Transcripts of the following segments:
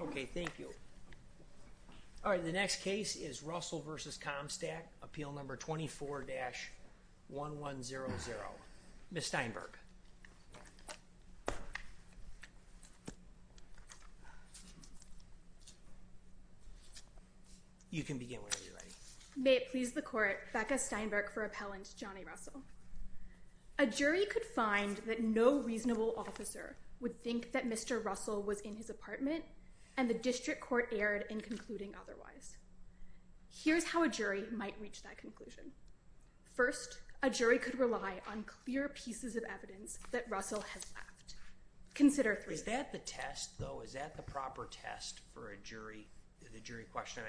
Okay, thank you. Alright, the next case is Russell v. Comstock, Appeal No. 24-1100. Miss Steinberg. You can begin whenever you're ready. May it please the Court, Becca Steinberg for Appellant Johnny Russell. A jury could find that no reasonable officer would think that Mr. Russell was in his apartment, and the District Court erred in concluding otherwise. Here's how a jury might reach that conclusion. First, a jury could rely on clear pieces of evidence that Russell has left. Consider three- Is that the test, though? Is that the proper test for a jury, the jury question?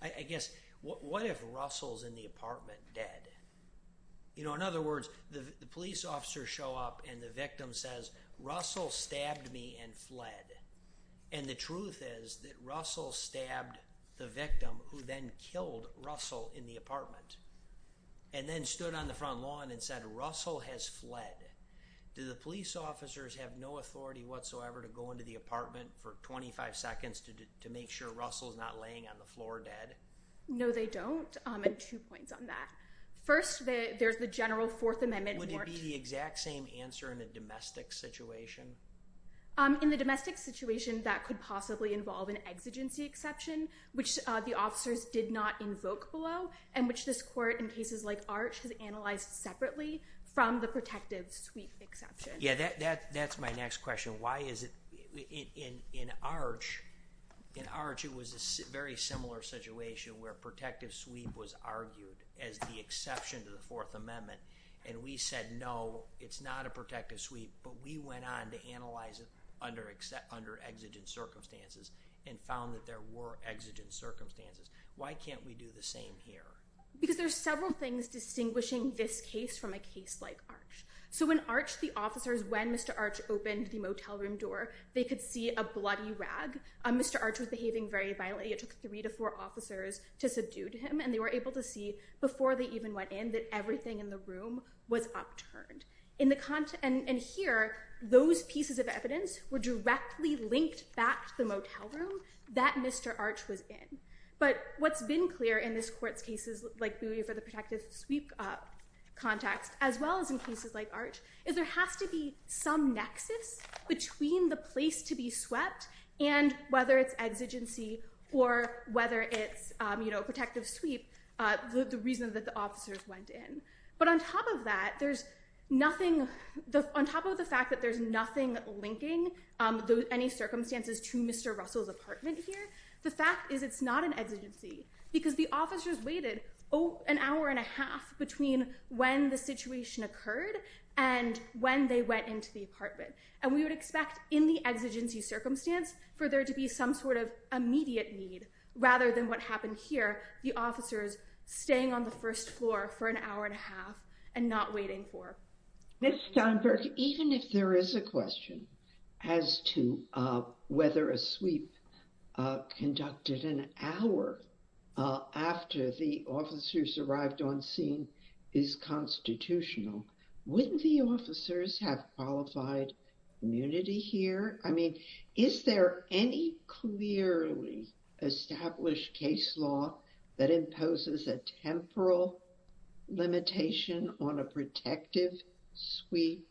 I guess, what if Russell's in the apartment dead? You know, in other words, the police officer show up and the victim says, Russell stabbed me and fled. And the truth is that Russell stabbed the victim, who then killed Russell in the apartment, and then stood on the front lawn and said, Russell has fled. Do the police officers have no authority whatsoever to go into the apartment for 25 seconds to make sure Russell's not laying on the floor dead? No, they don't. And two points on that. First, there's the General Fourth Amendment. Would it be the exact same answer in a domestic situation? In the domestic situation, that could possibly involve an exigency exception, which the officers did not invoke below, and which this Court, in cases like Arch, has analyzed separately from the protective sweep exception. Yeah, that's my next question. Why is it, in Arch, it was a very similar situation where protective sweep was argued as the exception to the Fourth Amendment, and we said, no, it's not a protective sweep, but we went on to analyze it under exigent circumstances and found that there were exigent circumstances. Why can't we do the same here? Because there's several things distinguishing this case from a case like Arch. So in Arch, the officers, when Mr. Arch opened the motel room door, they could see a bloody rag. Mr. Arch was behaving very violently. It took three to four officers to subdue to him, and they were able to see, before they even went in, that everything in the room was upturned. And here, those pieces of evidence were directly linked back to the motel room that Mr. Arch was in. But what's been clear in this Court's cases like Bowie for the protective sweep context, as well as in cases like Arch, is there has to be some nexus between the place to be swept and whether it's exigency or whether it's a protective sweep, the reason that the officers went in. But on top of that, there's nothing, on top of the fact that there's nothing linking any circumstances to Mr. Russell's apartment here, the fact is it's not an exigency, because the officers waited an hour and a half between when the situation occurred and when they got into the apartment. And we would expect, in the exigency circumstance, for there to be some sort of immediate need, rather than what happened here, the officers staying on the first floor for an hour and a half and not waiting for... Ms. Steinberg, even if there is a question as to whether a sweep conducted an hour after the officers arrived on scene is constitutional, wouldn't the officers have qualified immunity here? I mean, is there any clearly established case law that imposes a temporal limitation on a protective sweep?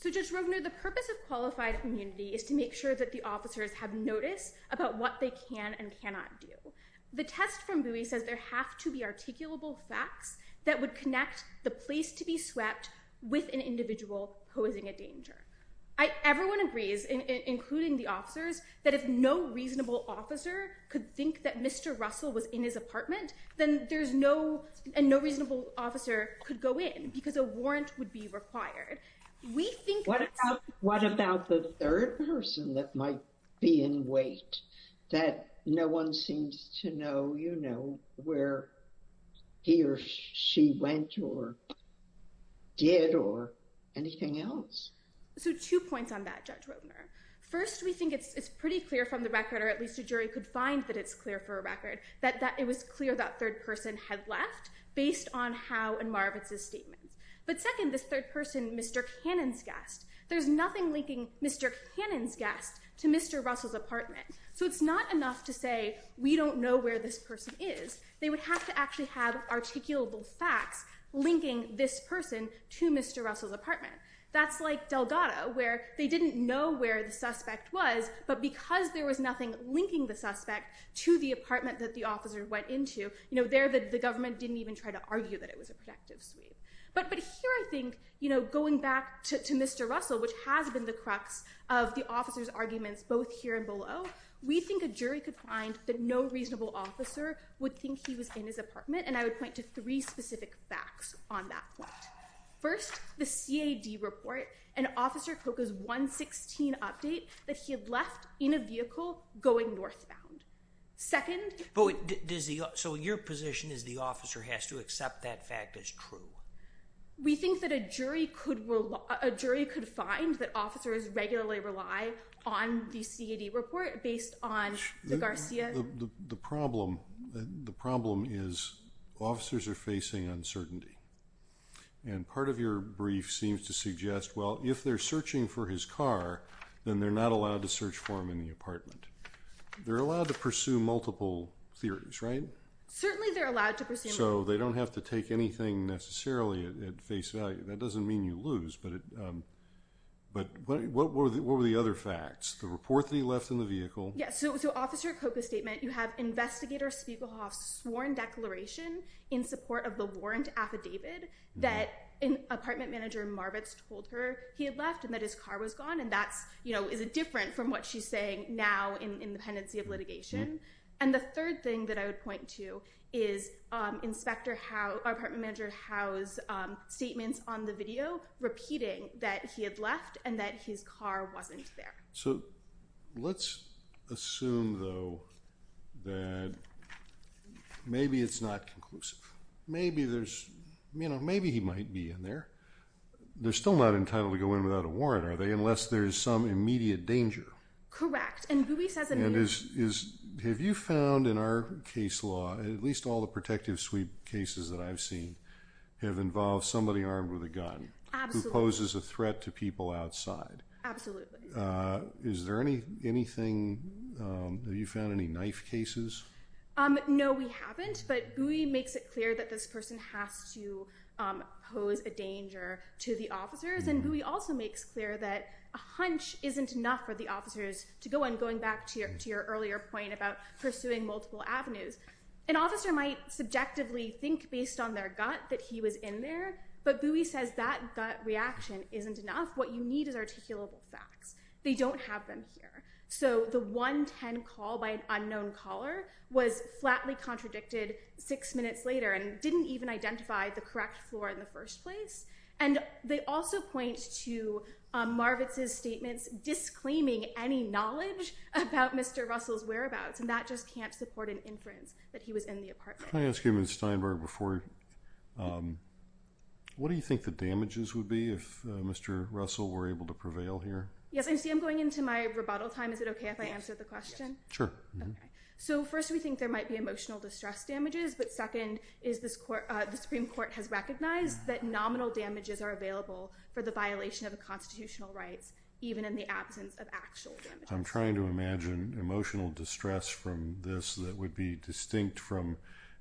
So, Judge Rogner, the purpose of qualified immunity is to make sure that the officers have notice about what they can and cannot do. The test from Bowie says there have to be articulable facts that would connect the place to be swept with an individual posing a danger. Everyone agrees, including the officers, that if no reasonable officer could think that Mr. Russell was in his apartment, then there's no... And no reasonable officer could go in, because a warrant would be required. We think... What about the third person that might be in wait, that no one seems to know, you know, where he or she went or did or anything else? So two points on that, Judge Rogner. First, we think it's pretty clear from the record, or at least a jury could find that it's clear for a record, that it was clear that third person had left, based on Howe and Marvitz's statements. But second, this third person, Mr. Cannon's guest. There's nothing linking Mr. Cannon's guest to Mr. Russell's apartment. So it's not enough to say, we don't know where this person is. They would have to actually have articulable facts linking this person to Mr. Russell's apartment. That's like Delgado, where they didn't know where the suspect was, but because there was nothing linking the suspect to the apartment that the officer went into, you know, there the government didn't even try to argue that it was a protective sweep. But here I think, you know, going back to Mr. Russell, which has been the crux of the officer's arguments, both here and below, we think a jury could find that no reasonable officer would think he was in his apartment. And I would point to three specific facts on that point. First, the CAD report and Officer Koka's 116 update that he had left in a vehicle going northbound. Second... So your position is the officer has to accept that fact as true? We think that a jury could find that officers regularly rely on the CAD report based on the Garcia... The problem is officers are facing uncertainty. And part of your brief seems to suggest, well, if they're searching for his car, then they're not allowed to search for him in the apartment. They're allowed to pursue multiple theories, right? Certainly they're allowed to pursue multiple theories. So they don't have to take anything necessarily at face value. That doesn't mean you lose, but what were the other facts? The report that he left in the vehicle? Yeah, so Officer Koka's statement, you have Investigator Spiegelhoff's sworn declaration in support of the warrant affidavit that apartment manager Marvitz told her he had left and that his car was gone. And that's, you know, is it different from what she's saying now in the pendency of litigation? And the third thing that I would point to is our apartment manager Howe's statements on the video repeating that he had left and that his car wasn't there. So let's assume though that maybe it's not conclusive. Maybe there's, you know, maybe he might be in there. They're still not entitled to go in without a warrant, are they? Unless there's some immediate danger. Correct. And Bowie says that- Have you found in our case law, at least all the protective suite cases that I've seen, have involved somebody armed with a gun who poses a threat to people outside? Absolutely. Is there anything, have you found any knife cases? No, we haven't. But Bowie makes it clear that this person has to pose a danger to the officers. And Bowie also makes clear that a hunch isn't enough for the officers to go in. Going back to your earlier point about pursuing multiple avenues. An officer might subjectively think based on their gut that he was in there, but Bowie says that gut reaction isn't enough. What you need is articulable facts. They don't have them here. So the 110 call by an unknown caller was flatly contradicted six minutes later and didn't even identify the correct floor in the first place. And they also point to Marvitz's statements disclaiming any knowledge about Mr. Russell's whereabouts. And that just can't support an inference that he was in the apartment. Can I ask you, Ms. Steinberg, before, what do you think the damages would be if Mr. Russell were able to prevail here? Yes, I see I'm going into my rebuttal time. Is it okay if I answer the question? Sure. Okay. So first we think there might be emotional distress damages, but second is the Supreme Court has recognized that nominal damages are available for the violation of the constitutional rights, even in the absence of actual damages. I'm trying to imagine emotional distress from this that would be distinct from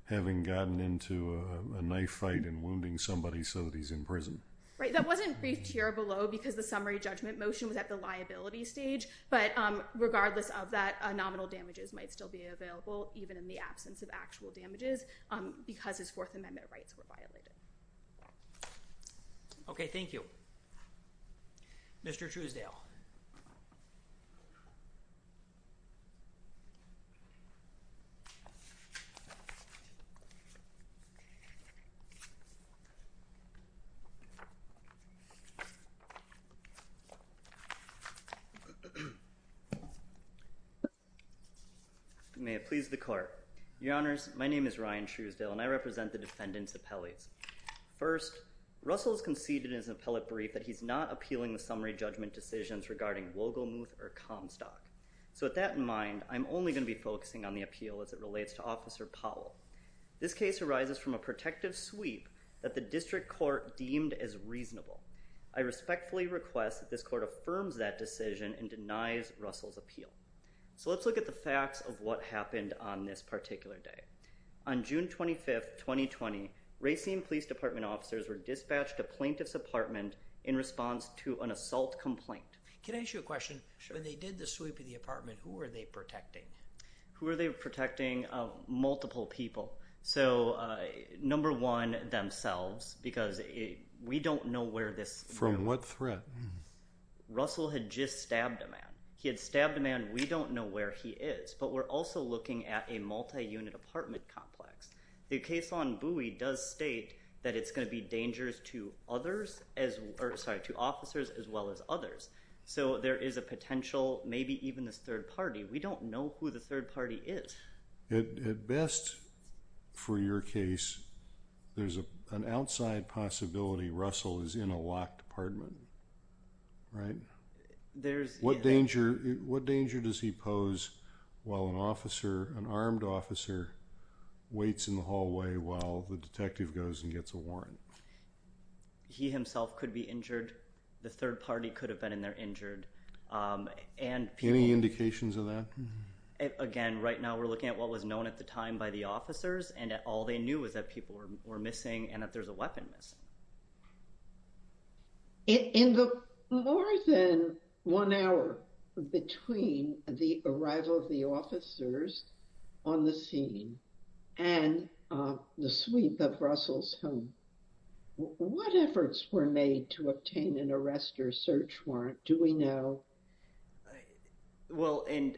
having gotten into a knife fight and wounding somebody so that he's in prison. Right. That wasn't briefed here below because the summary judgment motion was at the liability stage. But regardless of that, nominal damages might still be available, even in the absence of actual damages, because his Fourth Amendment rights were violated. Okay. Thank you. Mr. Truesdale. You may have pleased the court. Your Honors, my name is Ryan Truesdale and I represent the defendant's appellate. First, Russell has conceded in his appellate brief that he's not appealing the summary judgment decisions regarding Wogelmuth or Comstock. So with that in mind, I'm only going to be focusing on the appeal as it relates to Officer Powell. This case arises from a protective sweep that the district court deemed as reasonable. I respectfully request that this court affirms that decision and denies Russell's appeal. So let's look at the facts of what happened on this particular day. On June 25th, 2020, Racine Police Department officers were dispatched to plaintiffs' apartment in response to an assault complaint. Can I ask you a question? Sure. When they did the sweep of the apartment, who were they protecting? Who were they protecting? Multiple people. So, number one, themselves, because we don't know where this... From what threat? Russell had just stabbed a man. He had stabbed a man. We don't know where he is. But we're also looking at a multi-unit apartment complex. The case on Bowie does state that it's going to be dangerous to officers as well as others. So there is a potential, maybe even this third party. We don't know who the third party is. At best, for your case, there's an outside possibility Russell is in a locked apartment, right? What danger does he pose while an officer, an armed officer, waits in the hallway while the detective goes and gets a warrant? He himself could be injured. The third party could have been in there injured. Any indications of that? Again, right now we're looking at what was known at the time by the officers and all they knew was that people were missing and that there's a weapon missing. In the more than one hour between the arrival of the officers on the scene and the sweep of Russell's home, what efforts were made to obtain an arrest or search warrant? Do we know? Well, and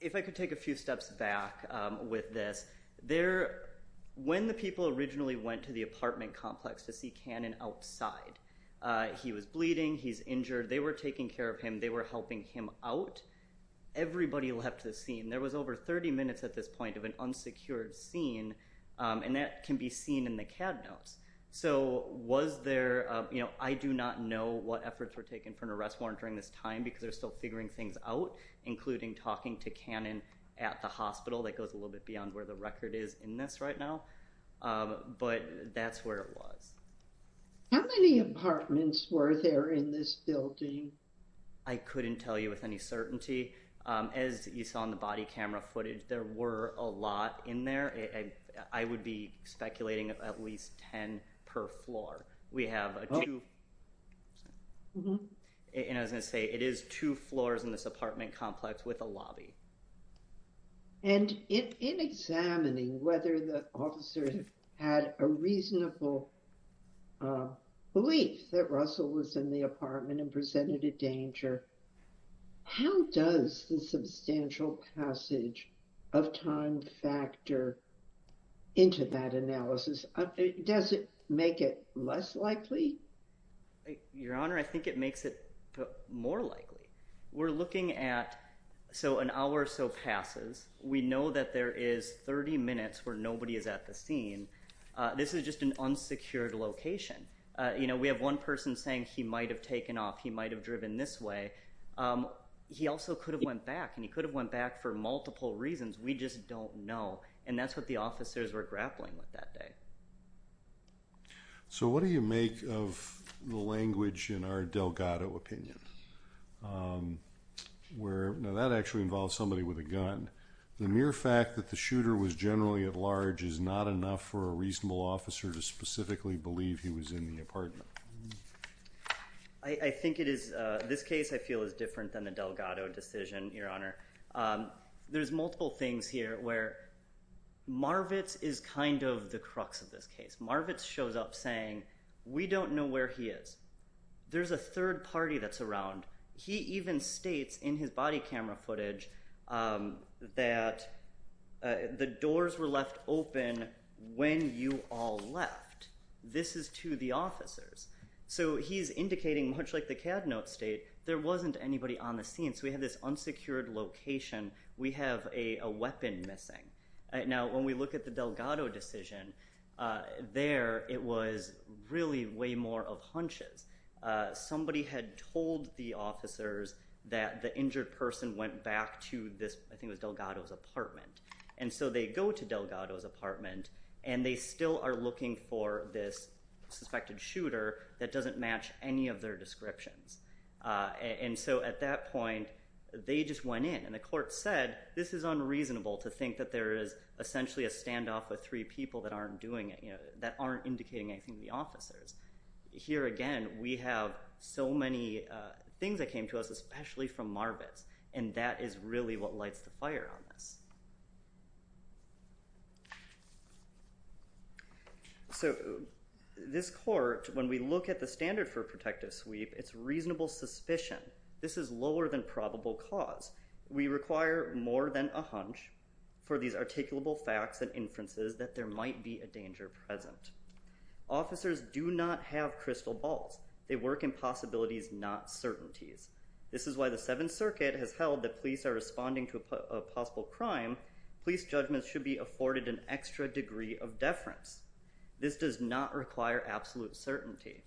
if I could take a few steps back with this, when the people originally went to the apartment complex to see Cannon outside, he was bleeding, he's injured. They were taking care of him. They were helping him out. Everybody left the scene. There was over 30 minutes at this point of an unsecured scene and that can be seen in the CAD notes. So was there, you know, I do not know what efforts were taken for an arrest warrant during this time because they're still figuring things out, including talking to Cannon at the hospital. That goes a little bit beyond where the record is in this right now, but that's where it was. How many apartments were there in this building? I couldn't tell you with any certainty. As you saw in the body camera footage, there were a lot in there. I would be speculating at least 10 per floor. We have two, and I was going to say it is two floors in this apartment complex with a lobby. And in examining whether the officers had a reasonable belief that Russell was in the into that analysis, does it make it less likely? Your Honor, I think it makes it more likely. We're looking at, so an hour or so passes. We know that there is 30 minutes where nobody is at the scene. This is just an unsecured location. You know, we have one person saying he might have taken off. He might have driven this way. He also could have went back and he could have went back for multiple reasons. We just don't know. And that's what the officers were grappling with that day. So what do you make of the language in our Delgado opinion? Now that actually involves somebody with a gun. The mere fact that the shooter was generally at large is not enough for a reasonable officer to specifically believe he was in the apartment. I think it is, this case I feel is different than the Delgado decision, Your Honor. There's multiple things here where Marvitz is kind of the crux of this case. Marvitz shows up saying, we don't know where he is. There's a third party that's around. He even states in his body camera footage that the doors were left open when you all left. This is to the officers. So he's indicating, much like the Cad Note state, there wasn't anybody on the scene. So we have this unsecured location. We have a weapon missing. Now when we look at the Delgado decision, there it was really way more of hunches. Somebody had told the officers that the injured person went back to Delgado's apartment. And so they go to Delgado's apartment and they still are looking for this suspected shooter that doesn't match any of their descriptions. And so at that point, they just went in. And the court said, this is unreasonable to think that there is essentially a standoff of three people that aren't doing it, that aren't indicating anything to the officers. Here again, we have so many things that came to us, especially from Marvitz. And that is really what lights the fire on this. So this court, when we look at the standard for protective sweep, it's reasonable suspicion. This is lower than probable cause. We require more than a hunch for these articulable facts and inferences that there might be a danger present. Officers do not have crystal balls. They work in possibilities, not certainties. This is why the Seventh Circuit has held that police are responding to a possible crime. Police judgments should be afforded an extra degree of deference. This does not require absolute certainty.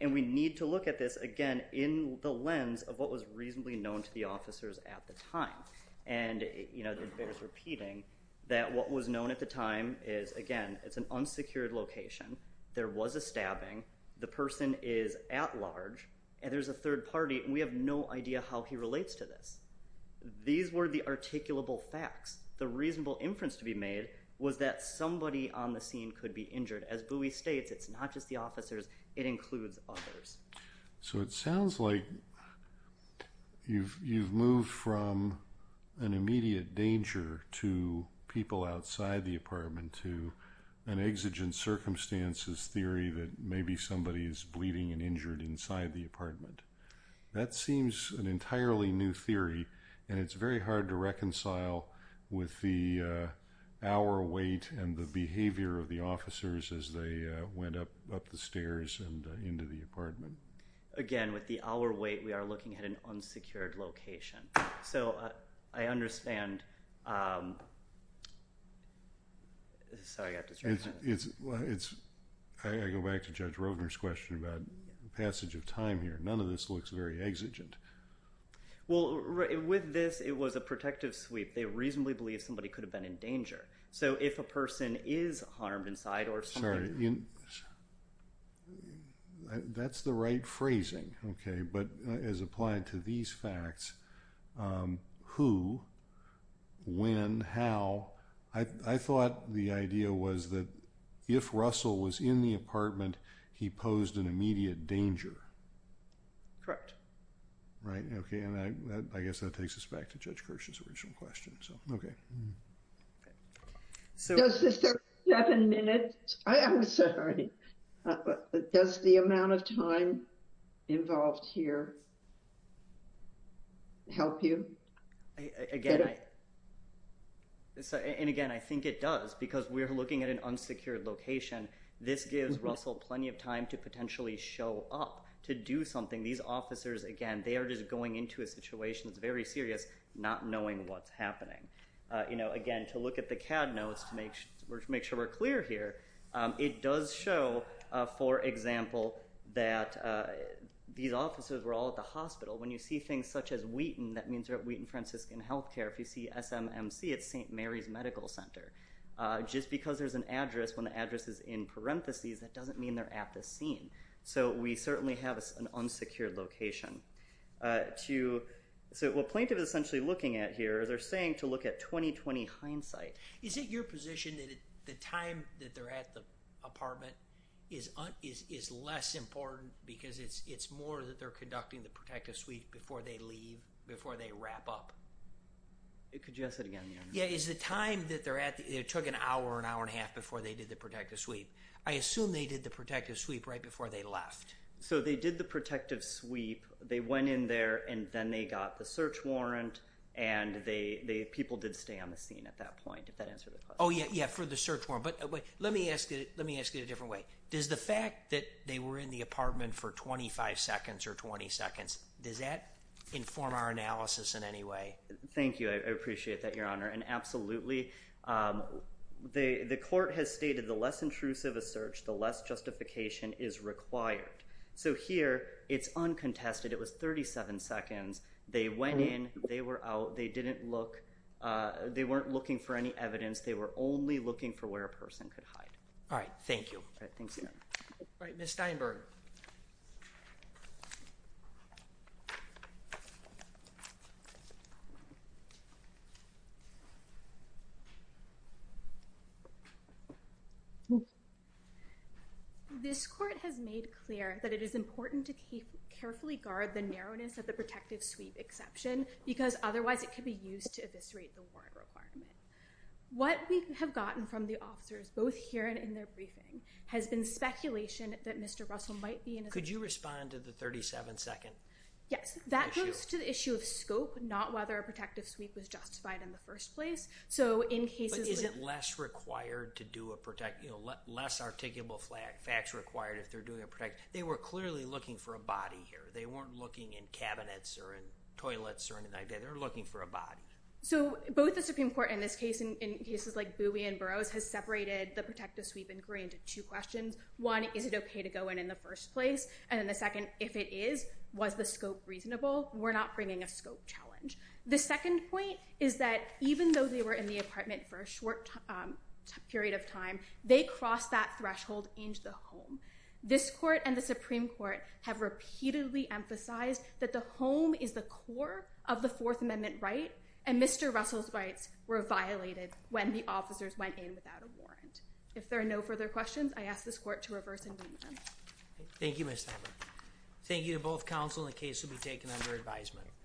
And we need to look at this, again, in the lens of what was reasonably known to the officers at the time. And it bears repeating that what was known at the time is, again, it's an unsecured location. There was a stabbing. The person is at large. And there's a third party, and we have no idea how he relates to this. These were the articulable facts. The reasonable inference to be made was that somebody on the scene could be injured. As Bowie states, it's not just the officers. It includes others. So it sounds like you've moved from an immediate danger to people outside the apartment to an exigent circumstances theory that maybe somebody is bleeding and injured inside the apartment. That seems an entirely new theory, and it's very hard to reconcile with the hour wait and the behavior of the officers as they went up the stairs and into the apartment. Again, with the hour wait, we are looking at an unsecured location. So I understand... Sorry, I got distracted. I go back to Judge Rovner's question about passage of time here. None of this looks very exigent. Well, with this, it was a protective sweep. They reasonably believed somebody could have been in danger. So if a person is harmed inside or something... That's the right phrasing, okay, but as applied to these facts, who, when, how, I thought the idea was that if Russell was in the apartment, he posed an immediate danger. Right, okay, and I guess that takes us back to Judge Kirsch's original question. So, okay. Does the 37 minutes... I'm sorry. Does the amount of time involved here... help you? And again, I think it does because we're looking at an unsecured location. This gives Russell plenty of time to potentially show up to do something. These officers, again, they are just going into a situation that's very serious, not knowing what's happening. You know, again, to look at the CAD notes to make sure we're clear here, it does show, for example, that these officers were all at the hospital. When you see things such as Wheaton, that means they're at Wheaton Franciscan Healthcare. If you see SMMC, it's St. Mary's Medical Center. Just because there's an address when the address is in parentheses, that doesn't mean they're at the scene. So we certainly have an unsecured location. So what plaintiff is essentially looking at here is they're saying to look at 20-20 hindsight. Is it your position that the time that they're at the apartment is less important because it's more that they're conducting the protective sweep before they leave, before they wrap up? Could you ask that again? Yeah, is the time that they're at, it took an hour, an hour and a half before they did the protective sweep. I assume they did the protective sweep right before they left. So they did the protective sweep, they went in there, and then they got the search warrant, and the people did stay on the scene at that point, if that answers the question. Oh yeah, yeah, for the search warrant. But let me ask it a different way. Does the fact that they were in the apartment for 25 seconds or 20 seconds, does that inform our analysis in any way? Thank you, I appreciate that, Your Honor. And absolutely. The court has stated the less intrusive a search, the less justification is required. So here, it's uncontested. It was 37 seconds. They went in, they were out, they didn't look. They weren't looking for any evidence. They were only looking for where a person could hide. All right, thank you. All right, Ms. Steinberg. This court has made clear that it is important to carefully guard the narrowness of the protective sweep exception, because otherwise it could be used to eviscerate the warrant requirement. What we have gotten from the officers, both here and in their briefing, has been speculation that Mr. Russell might be in- Could you respond to the 37-second issue? Yes, that goes to the issue of scope, not whether a protective sweep was justified in the first place. So in cases- But is it less required to do a- less articulable facts required if they're doing a protective- They were clearly looking for a body here. They weren't looking in cabinets or in toilets or anything like that. They were looking for a body. So both the Supreme Court in this case and in cases like Bowie and Burroughs has separated the protective sweep inquiry into two questions. One, is it okay to go in in the first place? And then the second, if it is, was the scope reasonable? We're not bringing a scope challenge. The second point is that even though they were in the apartment for a short period of time, they crossed that threshold into the home. This court and the Supreme Court have repeatedly emphasized that the home is the core of the Fourth Amendment right, and Mr. Russell's rights were violated when the officers went in without a warrant. If there are no further questions, I ask this court to reverse endeavor. Thank you, Ms. Talbert. Thank you to both counsel and the case will be taken under advisement.